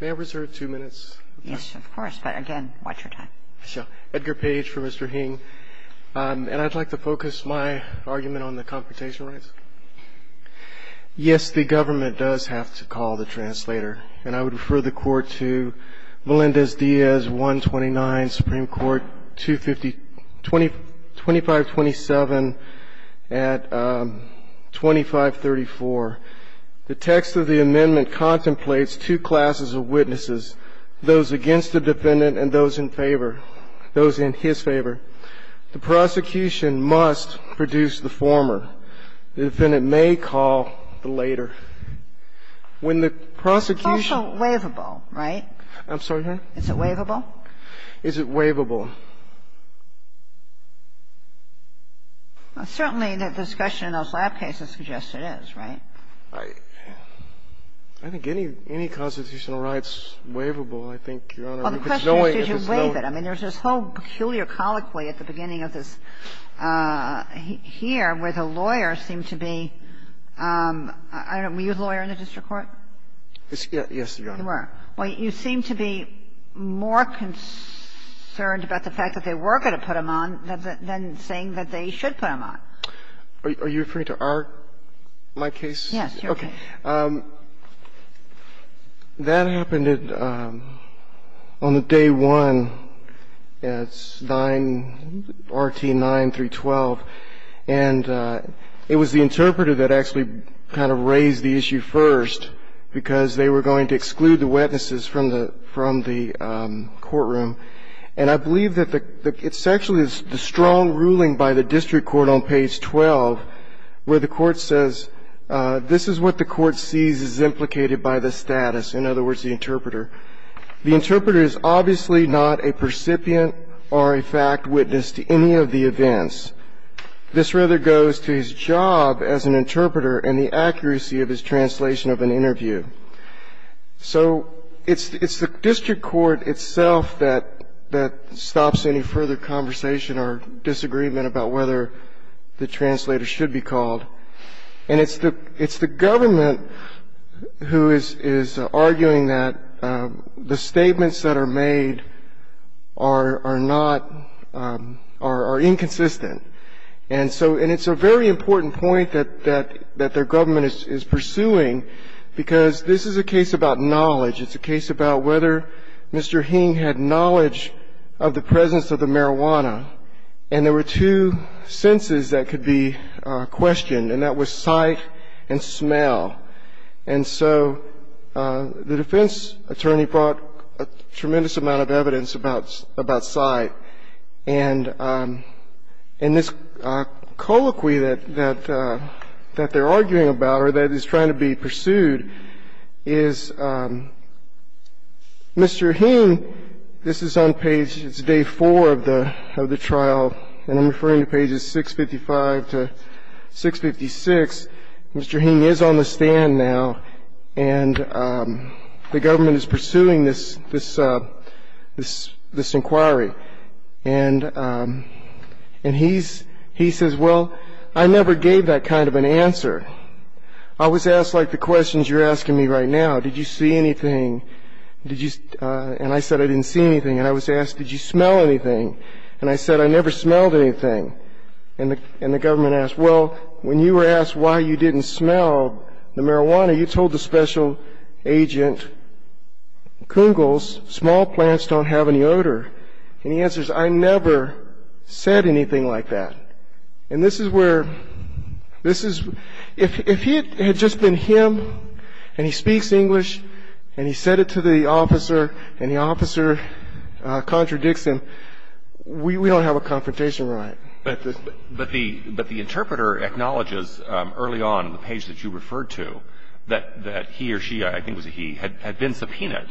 May I reserve two minutes? Yes, of course, but again, watch your time. Sure. Edgar Page for Mr. Hieng. And I'd like to focus my argument on the confrontation rights. Yes, the government does have to call the translator, and I would refer the court to Melendez-Diaz, 129, Supreme Court, 2527 at 2534. The text of the amendment contemplates two classes of witnesses, those against the defendant and those in favor, those in his favor. The prosecution must produce the former. The defendant may call the later. When the prosecution. It's also waivable, right? I'm sorry, ma'am? Is it waivable? Is it waivable? Certainly, the discussion in those lab cases suggests it is, right? I think any constitutional right is waivable, I think, Your Honor. Well, the question is, did you waive it? I mean, there's this whole peculiar colloquy at the beginning of this here where the lawyer seemed to be – I don't know, were you a lawyer in the district court? Yes, Your Honor. Well, you seem to be more concerned about the fact that they were going to put him on than saying that they should put him on. Are you referring to our – my case? Yes, your case. Okay. That happened on the day one at 9 – RT 9-312. And it was the interpreter that actually kind of raised the issue first because they were going to exclude the witnesses from the courtroom. And I believe that the – it's actually the strong ruling by the district court on page 12 where the court says, this is what the court sees is implicated by the status, in other words, the interpreter. The interpreter is obviously not a recipient or a fact witness to any of the events. This rather goes to his job as an interpreter and the accuracy of his translation of an interview. So it's the district court itself that stops any further conversation or disagreement about whether the translator should be called. And it's the government who is arguing that the statements that are made are not – are inconsistent. And so – and it's a very important point that their government is pursuing because this is a case about knowledge. It's a case about whether Mr. Hing had knowledge of the presence of the marijuana. And there were two senses that could be questioned, and that was sight and smell. And so the defense attorney brought a tremendous amount of evidence about sight. And this colloquy that they're arguing about or that is trying to be pursued is Mr. Hing – this is on page – this is part of the trial, and I'm referring to pages 655 to 656. Mr. Hing is on the stand now, and the government is pursuing this inquiry. And he says, well, I never gave that kind of an answer. I was asked like the questions you're asking me right now. Did you see anything? And I said, I didn't see anything. And I was asked, did you smell anything? And I said, I never smelled anything. And the government asked, well, when you were asked why you didn't smell the marijuana, you told the special agent, Koongles, small plants don't have any odor. And he answers, I never said anything like that. And this is where – this is – if it had just been him and he speaks English and he said it to the officer and the officer contradicts him, we don't have a confrontation right. But the interpreter acknowledges early on in the page that you referred to that he or she, I think it was he, had been subpoenaed.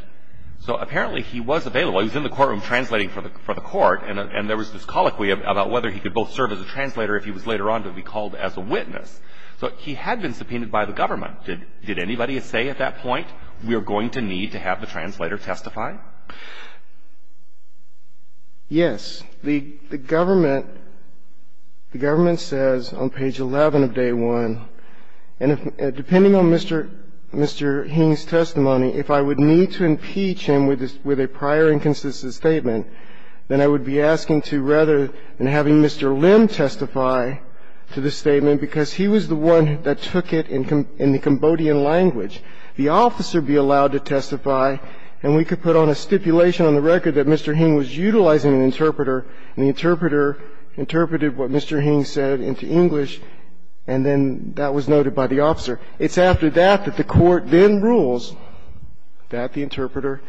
So apparently he was available. He was in the courtroom translating for the court, and there was this colloquy about whether he could both serve as a translator if he was later on to be called as a witness. So he had been subpoenaed by the government. Did anybody say at that point, we are going to need to have the translator testify? Yes. The government says on page 11 of Day 1, and depending on Mr. Heen's testimony, if I would need to impeach him with a prior inconsistent statement, then I would be asking to rather than having Mr. Lim testify to the statement because he was the one that took it in the Cambodian language, the officer be allowed to testify and we could put on a stipulation on the record that Mr. Heen was utilizing an interpreter and the interpreter interpreted what Mr. Heen said into English and then that was noted by the officer. It's after that that the court then rules that the interpreter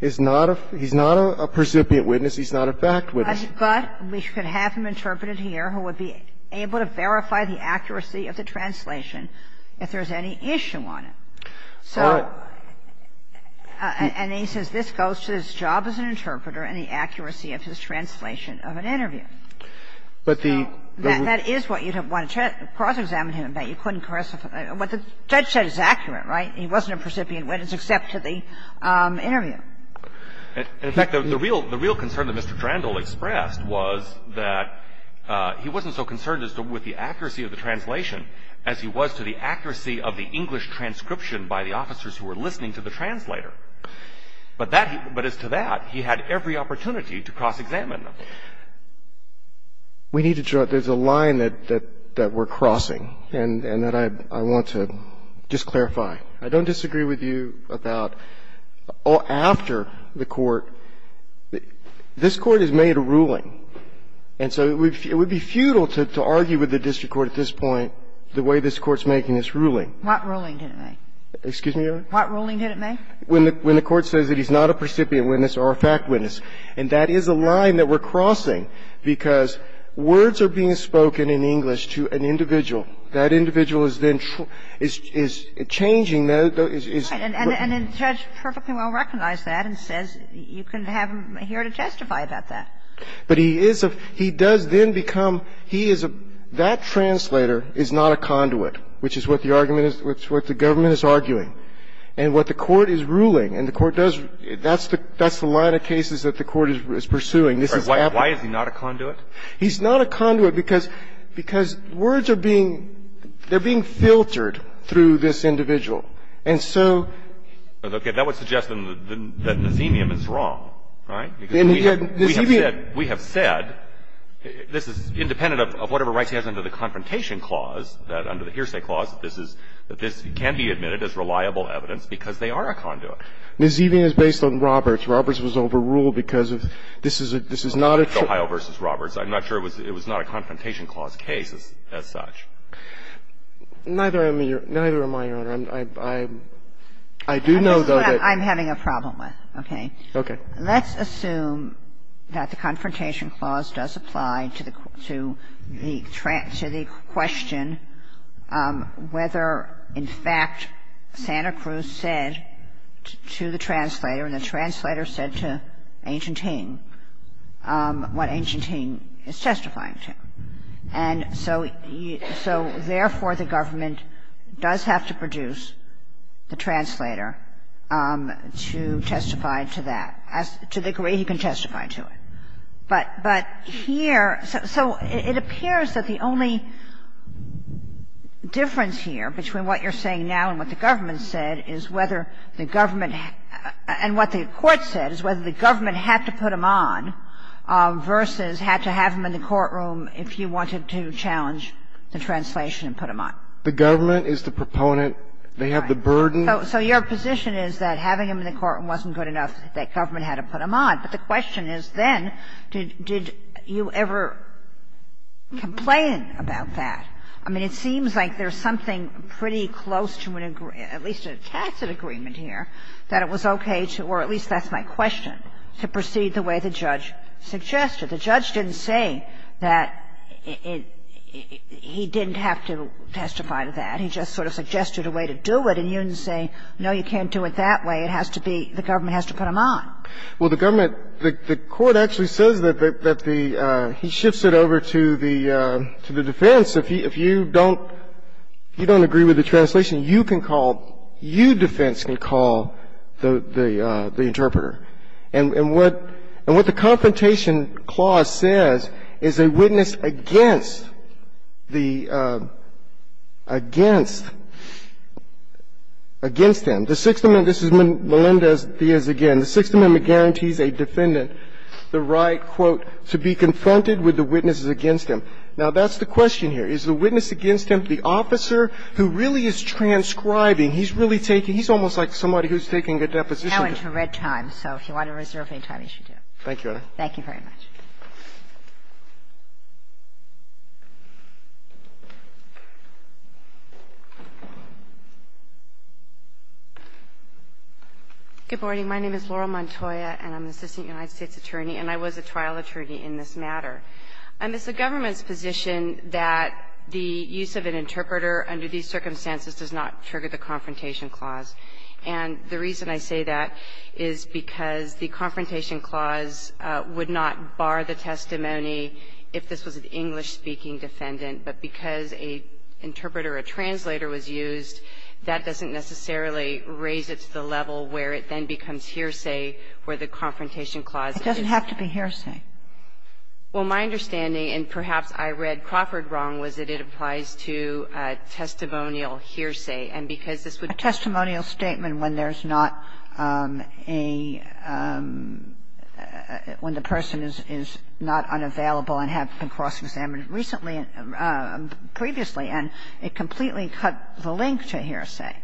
is not a he's not a precipitate witness, he's not a fact witness. But we could have him interpreted here who would be able to verify the accuracy of the translation if there's any issue on it. All right. So and he says this goes to his job as an interpreter and the accuracy of his translation of an interview. But the. That is what you'd want to cross-examine him about. You couldn't cross-examine him. What the judge said is accurate, right? He wasn't a precipitate witness except to the interview. In fact, the real concern that Mr. Drandall expressed was that he wasn't so concerned as to with the accuracy of the translation as he was to the accuracy of the English transcription by the officers who were listening to the translator. But as to that, he had every opportunity to cross-examine them. We need to draw. There's a line that we're crossing and that I want to just clarify. I don't disagree with you about after the court. This Court has made a ruling, and so it would be futile to argue with the district court at this point the way this Court's making this ruling. What ruling did it make? Excuse me, Your Honor? What ruling did it make? When the Court says that he's not a precipitate witness or a fact witness. And that is a line that we're crossing because words are being spoken in English to an individual. That individual is then changing the ---- And the judge perfectly well recognized that and says you can have him here to testify about that. But he is a ---- he does then become he is a ---- that translator is not a conduit, which is what the argument is, what the government is arguing. And what the court is ruling, and the court does, that's the line of cases that the court is pursuing. Why is he not a conduit? He's not a conduit because words are being, they're being filtered through this individual. And so ---- Okay. That would suggest then that Nazemian is wrong, right? Because we have said this is independent of whatever rights he has under the confrontation clause, that under the hearsay clause, that this is, that this can be admitted as reliable evidence because they are a conduit. Nazemian is based on Roberts. Roberts was overruled because of this is a, this is not a ---- Ohio v. Roberts. I'm not sure it was, it was not a confrontation clause case as such. Neither am I, Your Honor. I do know, though, that ---- I'm having a problem with. Okay. Okay. Let's assume that the confrontation clause does apply to the, to the question whether, in fact, Santa Cruz said to the translator, and the translator said to Agent Hing, what Agent Hing is testifying to. And so therefore, the government does have to produce the translator to testify to that, to the degree he can testify to it. But, but here, so it appears that the only difference here between what you're saying now and what the government said is whether the government, and what the Court said is whether the government had to put him on versus had to have him in the courtroom if you wanted to challenge the translation and put him on. The government is the proponent. They have the burden. So your position is that having him in the courtroom wasn't good enough, that government had to put him on. But the question is, then, did you ever complain about that? I mean, it seems like there's something pretty close to an agreement, at least a tacit agreement here, that it was okay to, or at least that's my question, to proceed the way the judge suggested. The judge didn't say that it, he didn't have to testify to that. He just sort of suggested a way to do it. And you're saying, no, you can't do it that way. It has to be, the government has to put him on. Well, the government, the Court actually says that the, he shifts it over to the defense. If you don't agree with the translation, you can call, you, defense, can call the interpreter. And what the Confrontation Clause says is a witness against the, against, against him, the Sixth Amendment, this is Melinda Diaz again, the Sixth Amendment guarantees a defendant the right, quote, to be confronted with the witnesses against him. Now, that's the question here. Is the witness against him the officer who really is transcribing? He's really taking, he's almost like somebody who's taking a deposition. Now into red time. So if you want to reserve any time, you should do it. Thank you, Your Honor. Thank you very much. Good morning. My name is Laurel Montoya, and I'm an assistant United States attorney, and I was a trial attorney in this matter. It's the government's position that the use of an interpreter under these circumstances does not trigger the Confrontation Clause. And the reason I say that is because the Confrontation Clause would not bar the testimony if this was an English-speaking defendant, but because a interpreter, a translator, was used, that doesn't necessarily raise it to the level where it then becomes hearsay where the Confrontation Clause is. It doesn't have to be hearsay. Well, my understanding, and perhaps I read Crawford wrong, was that it applies to testimonial hearsay. And because this would be a testimonial statement when there's not a – when the person is not unavailable and had been cross-examined recently, previously, and it completely cut the link to hearsay.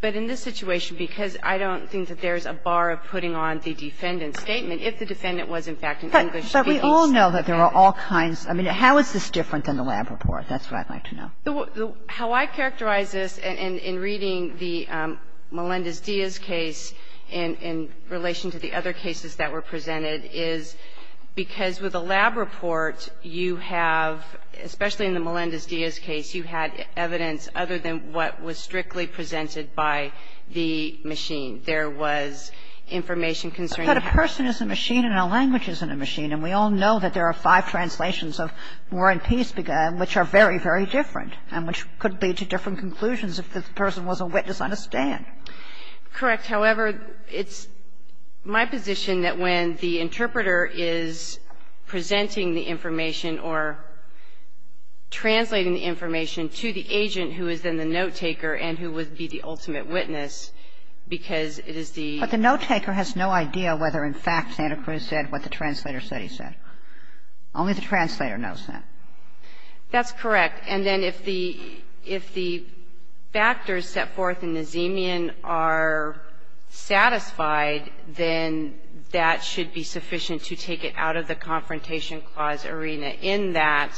But in this situation, because I don't think that there's a bar of putting on the defendant's statement, if the defendant was, in fact, an English-speaking defendant. But we all know that there are all kinds of – I mean, how is this different than the lab report? That's what I'd like to know. How I characterize this in reading the Melendez-Diaz case in relation to the other cases that were presented is because with a lab report, you have, especially in the Melendez-Diaz case, you had evidence other than what was strictly presented by the machine. There was information concerning the fact that a person is a machine and a language isn't a machine. And we all know that there are five translations of War and Peace, which are very, very different, and which could lead to different conclusions if the person was a witness on a stand. Correct. However, it's my position that when the interpreter is presenting the information or translating the information to the agent who is then the note-taker and who would be the ultimate witness, because it is the – But the note-taker has no idea whether, in fact, Santa Cruz said what the translator said he said. Only the translator knows that. That's correct. And then if the – if the factors set forth in the Zemian are satisfied, then that should be sufficient to take it out of the Confrontation Clause arena, in that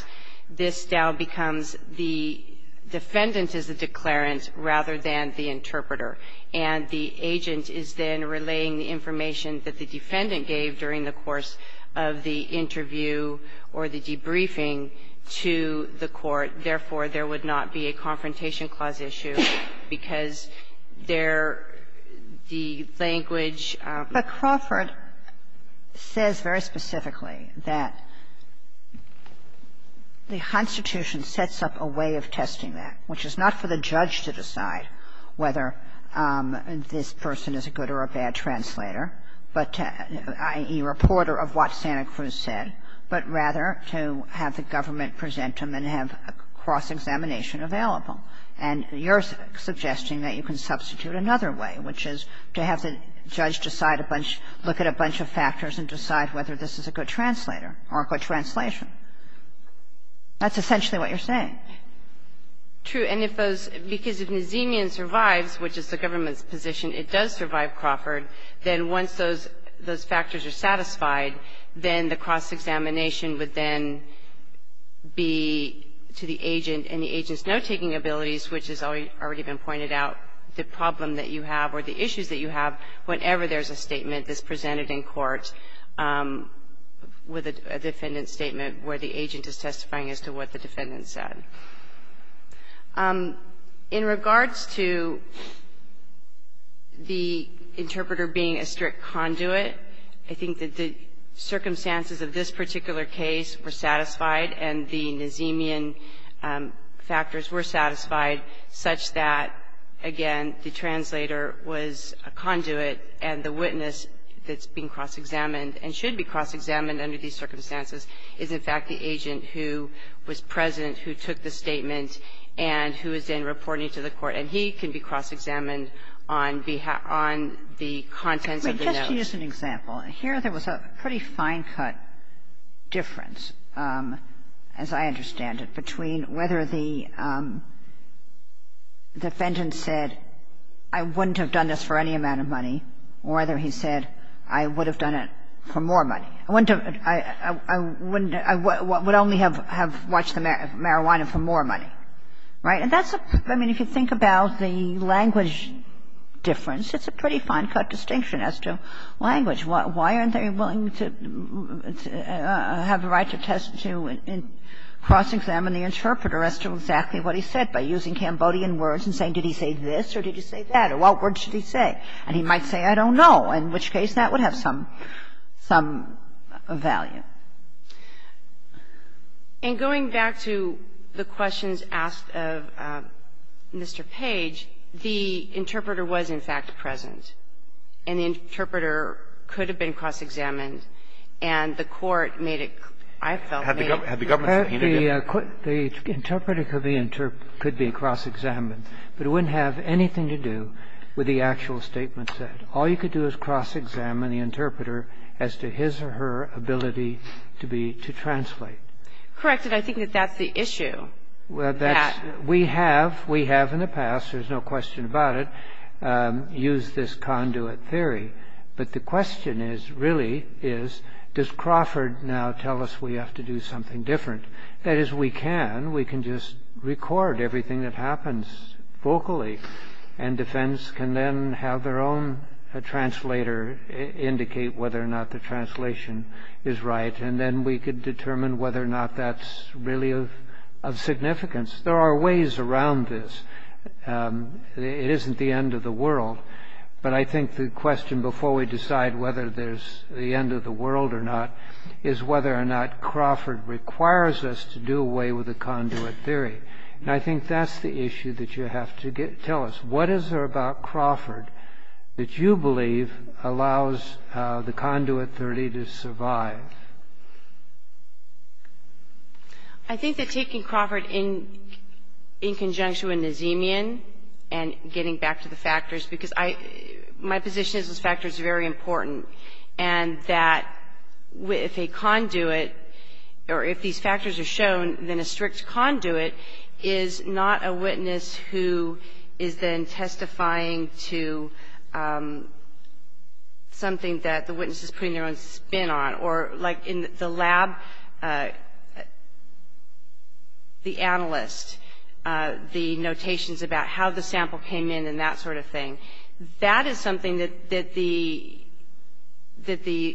this now becomes the defendant is the declarant rather than the interpreter, and the agent is then relaying the information that the defendant gave during the course of the hearing, and therefore, there would not be a Confrontation Clause issue, because there – the language – But Crawford says very specifically that the Constitution sets up a way of testing that, which is not for the judge to decide whether this person is a good or a bad translator, but – i.e., reporter of what Santa Cruz said, but rather to have the cross-examination available. And you're suggesting that you can substitute another way, which is to have the judge decide a bunch – look at a bunch of factors and decide whether this is a good translator or a good translation. That's essentially what you're saying. True. And if those – because if the Zemian survives, which is the government's position, it does survive Crawford, then once those factors are satisfied, then the cross-examination would then be to the agent, and the agent's note-taking abilities, which has already been pointed out, the problem that you have or the issues that you have whenever there's a statement that's presented in court with a defendant's statement where the agent is testifying as to what the defendant said. In regards to the interpreter being a strict conduit, I think that the circumstances of this particular case were satisfied, and the Nazemian factors were satisfied such that, again, the translator was a conduit, and the witness that's being cross-examined and should be cross-examined under these circumstances is, in fact, the agent who was present, who took the statement, and who is then reporting to the court, and he can be cross-examined on behalf – on the contents of the note. But just to use an example, here there was a pretty fine-cut difference, as I understand it, between whether the defendant said, I wouldn't have done this for any amount of money, or whether he said, I would have done it for more money. I wouldn't have – I would only have watched the marijuana for more money. Right? And that's a – I mean, if you think about the language difference, it's a pretty fine-cut distinction as to language. Why aren't they willing to have the right to test to cross-examine the interpreter as to exactly what he said by using Cambodian words and saying, did he say this or did he say that, or what words did he say? And he might say, I don't know, in which case that would have some – some value. And going back to the questions asked of Mr. Page, the interpreter was, in fact, present, and the interpreter could have been cross-examined, and the court made it – I felt made it clear. Had the government said he needed it? The interpreter could be cross-examined, but it wouldn't have anything to do with what the actual statement said. All you could do is cross-examine the interpreter as to his or her ability to be – to translate. Correct, and I think that that's the issue. Well, that's – we have – we have in the past, there's no question about it, used this conduit theory. But the question is, really, is, does Crawford now tell us we have to do something different? That is, we can. We can just record everything that happens vocally, and defense can then have their own translator indicate whether or not the translation is right, and then we could determine whether or not that's really of significance. There are ways around this. It isn't the end of the world. But I think the question, before we decide whether there's the end of the world or not, is whether or not Crawford requires us to do away with the conduit theory. And I think that's the issue that you have to tell us. What is there about Crawford that you believe allows the conduit theory to survive? I think that taking Crawford in conjunction with Nazemian and getting back to the factors – because I – my position is those factors are very important, and that if a conduit – or if these factors are shown, then a strict conduit is not a witness who is then testifying to something that the witness is putting their own spin on. Or like in the lab, the analyst, the notations about how the sample came in and that sort of thing, that is something that the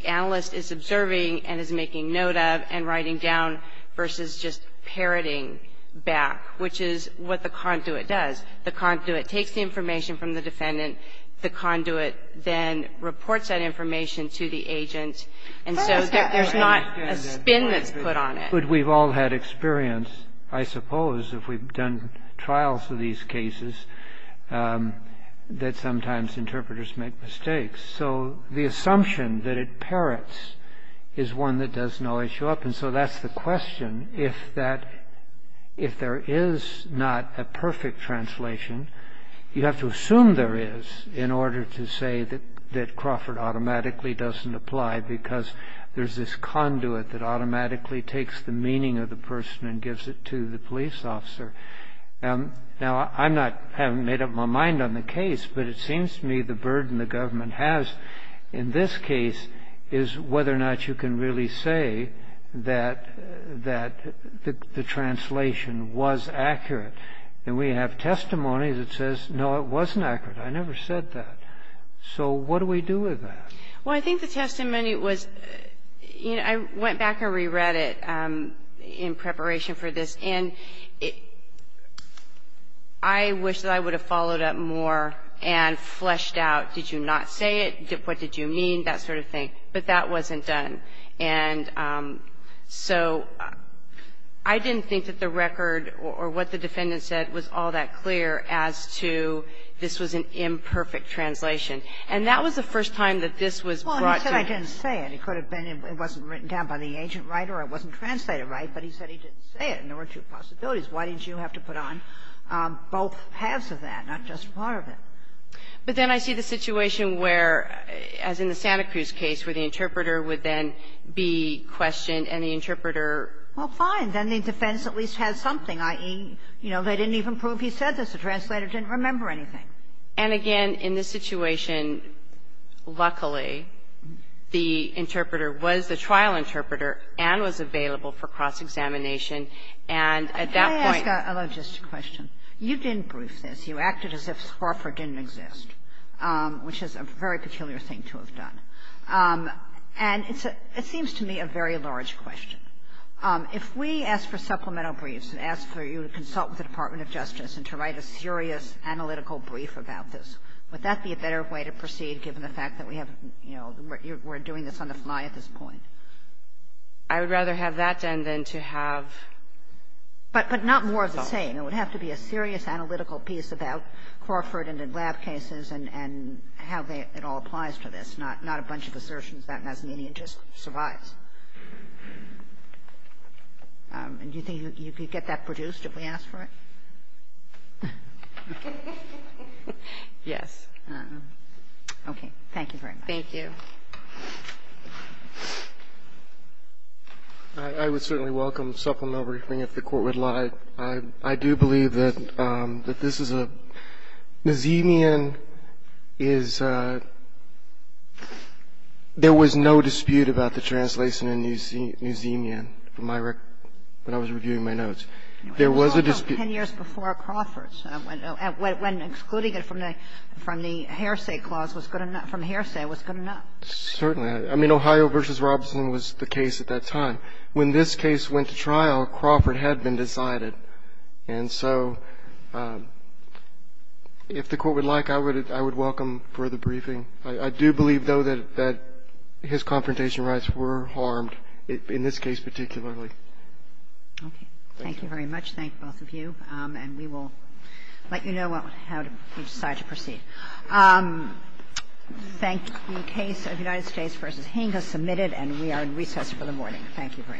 analyst is observing and is making note of and writing down versus just parroting back, which is what the conduit does. The conduit takes the information from the defendant. The conduit then reports that information to the agent, and so there's not a spin that's put on it. But we've all had experience, I suppose, if we've done trials of these cases, that sometimes interpreters make mistakes. So the assumption that it parrots is one that does not show up. And so that's the question, if there is not a perfect translation, you have to assume there is in order to say that Crawford automatically doesn't apply because there's this conduit that automatically takes the meaning of the person and gives it to the police officer. Now, I'm not having made up my mind on the case, but it seems to me the burden the government has in this case is whether or not you can really say that the translation was accurate. And we have testimony that says, no, it wasn't accurate. I never said that. So what do we do with that? Well, I think the testimony was, you know, I went back and re-read it in preparation for this, and I wish that I would have followed up more and fleshed out, did you not say it, what did you mean, that sort of thing. But that wasn't done. And so I didn't think that the record or what the defendant said was all that clear as to this was an imperfect translation. And that was the first time that this was brought to you. Well, you said I didn't say it. It could have been it wasn't written down by the agent, right, or it wasn't translated right, but he said he didn't say it, and there were two possibilities. Why didn't you have to put on both halves of that, not just part of it? But then I see the situation where, as in the Santa Cruz case, where the interpreter would then be questioned, and the interpreter ---- Well, fine. Then the defense at least has something, i.e., you know, they didn't even prove he said this. The translator didn't remember anything. And again, in this situation, luckily, the interpreter was the trial interpreter and was available for cross-examination, and at that point ---- Can I ask a logistic question? You didn't brief this. You acted as if Swarfer didn't exist, which is a very peculiar thing to have done. And it's a ---- it seems to me a very large question. If we ask for supplemental briefs and ask for you to consult with the Department of Justice and to write a serious analytical brief about this, would that be a better way to proceed, given the fact that we have, you know, we're doing this on the fly at this point? I would rather have that done than to have ---- But not more of the same. It would have to be a serious analytical piece about Crawford and in lab cases and how they ---- it all applies to this, not a bunch of assertions that Masnienian just survives. And do you think you could get that produced if we asked for it? Yes. Okay. Thank you very much. Thank you. I would certainly welcome supplemental briefing if the Court would like. I do believe that this is a ---- Masnienian is a ---- there was no dispute about the translation in Masnienian from my record when I was reviewing my notes. There was a dispute. It was 10 years before Crawford's, when excluding it from the ---- from the hearsay clause was good enough, from the hearsay was good enough. Certainly. I mean, Ohio v. Robertson was the case at that time. When this case went to trial, Crawford had been decided. And so if the Court would like, I would welcome further briefing. I do believe, though, that his confrontation rights were harmed in this case particularly. Okay. Thank you very much. Thank both of you. And we will let you know how to decide to proceed. The case of United States v. Hing has submitted, and we are in recess for the morning. Thank you very much.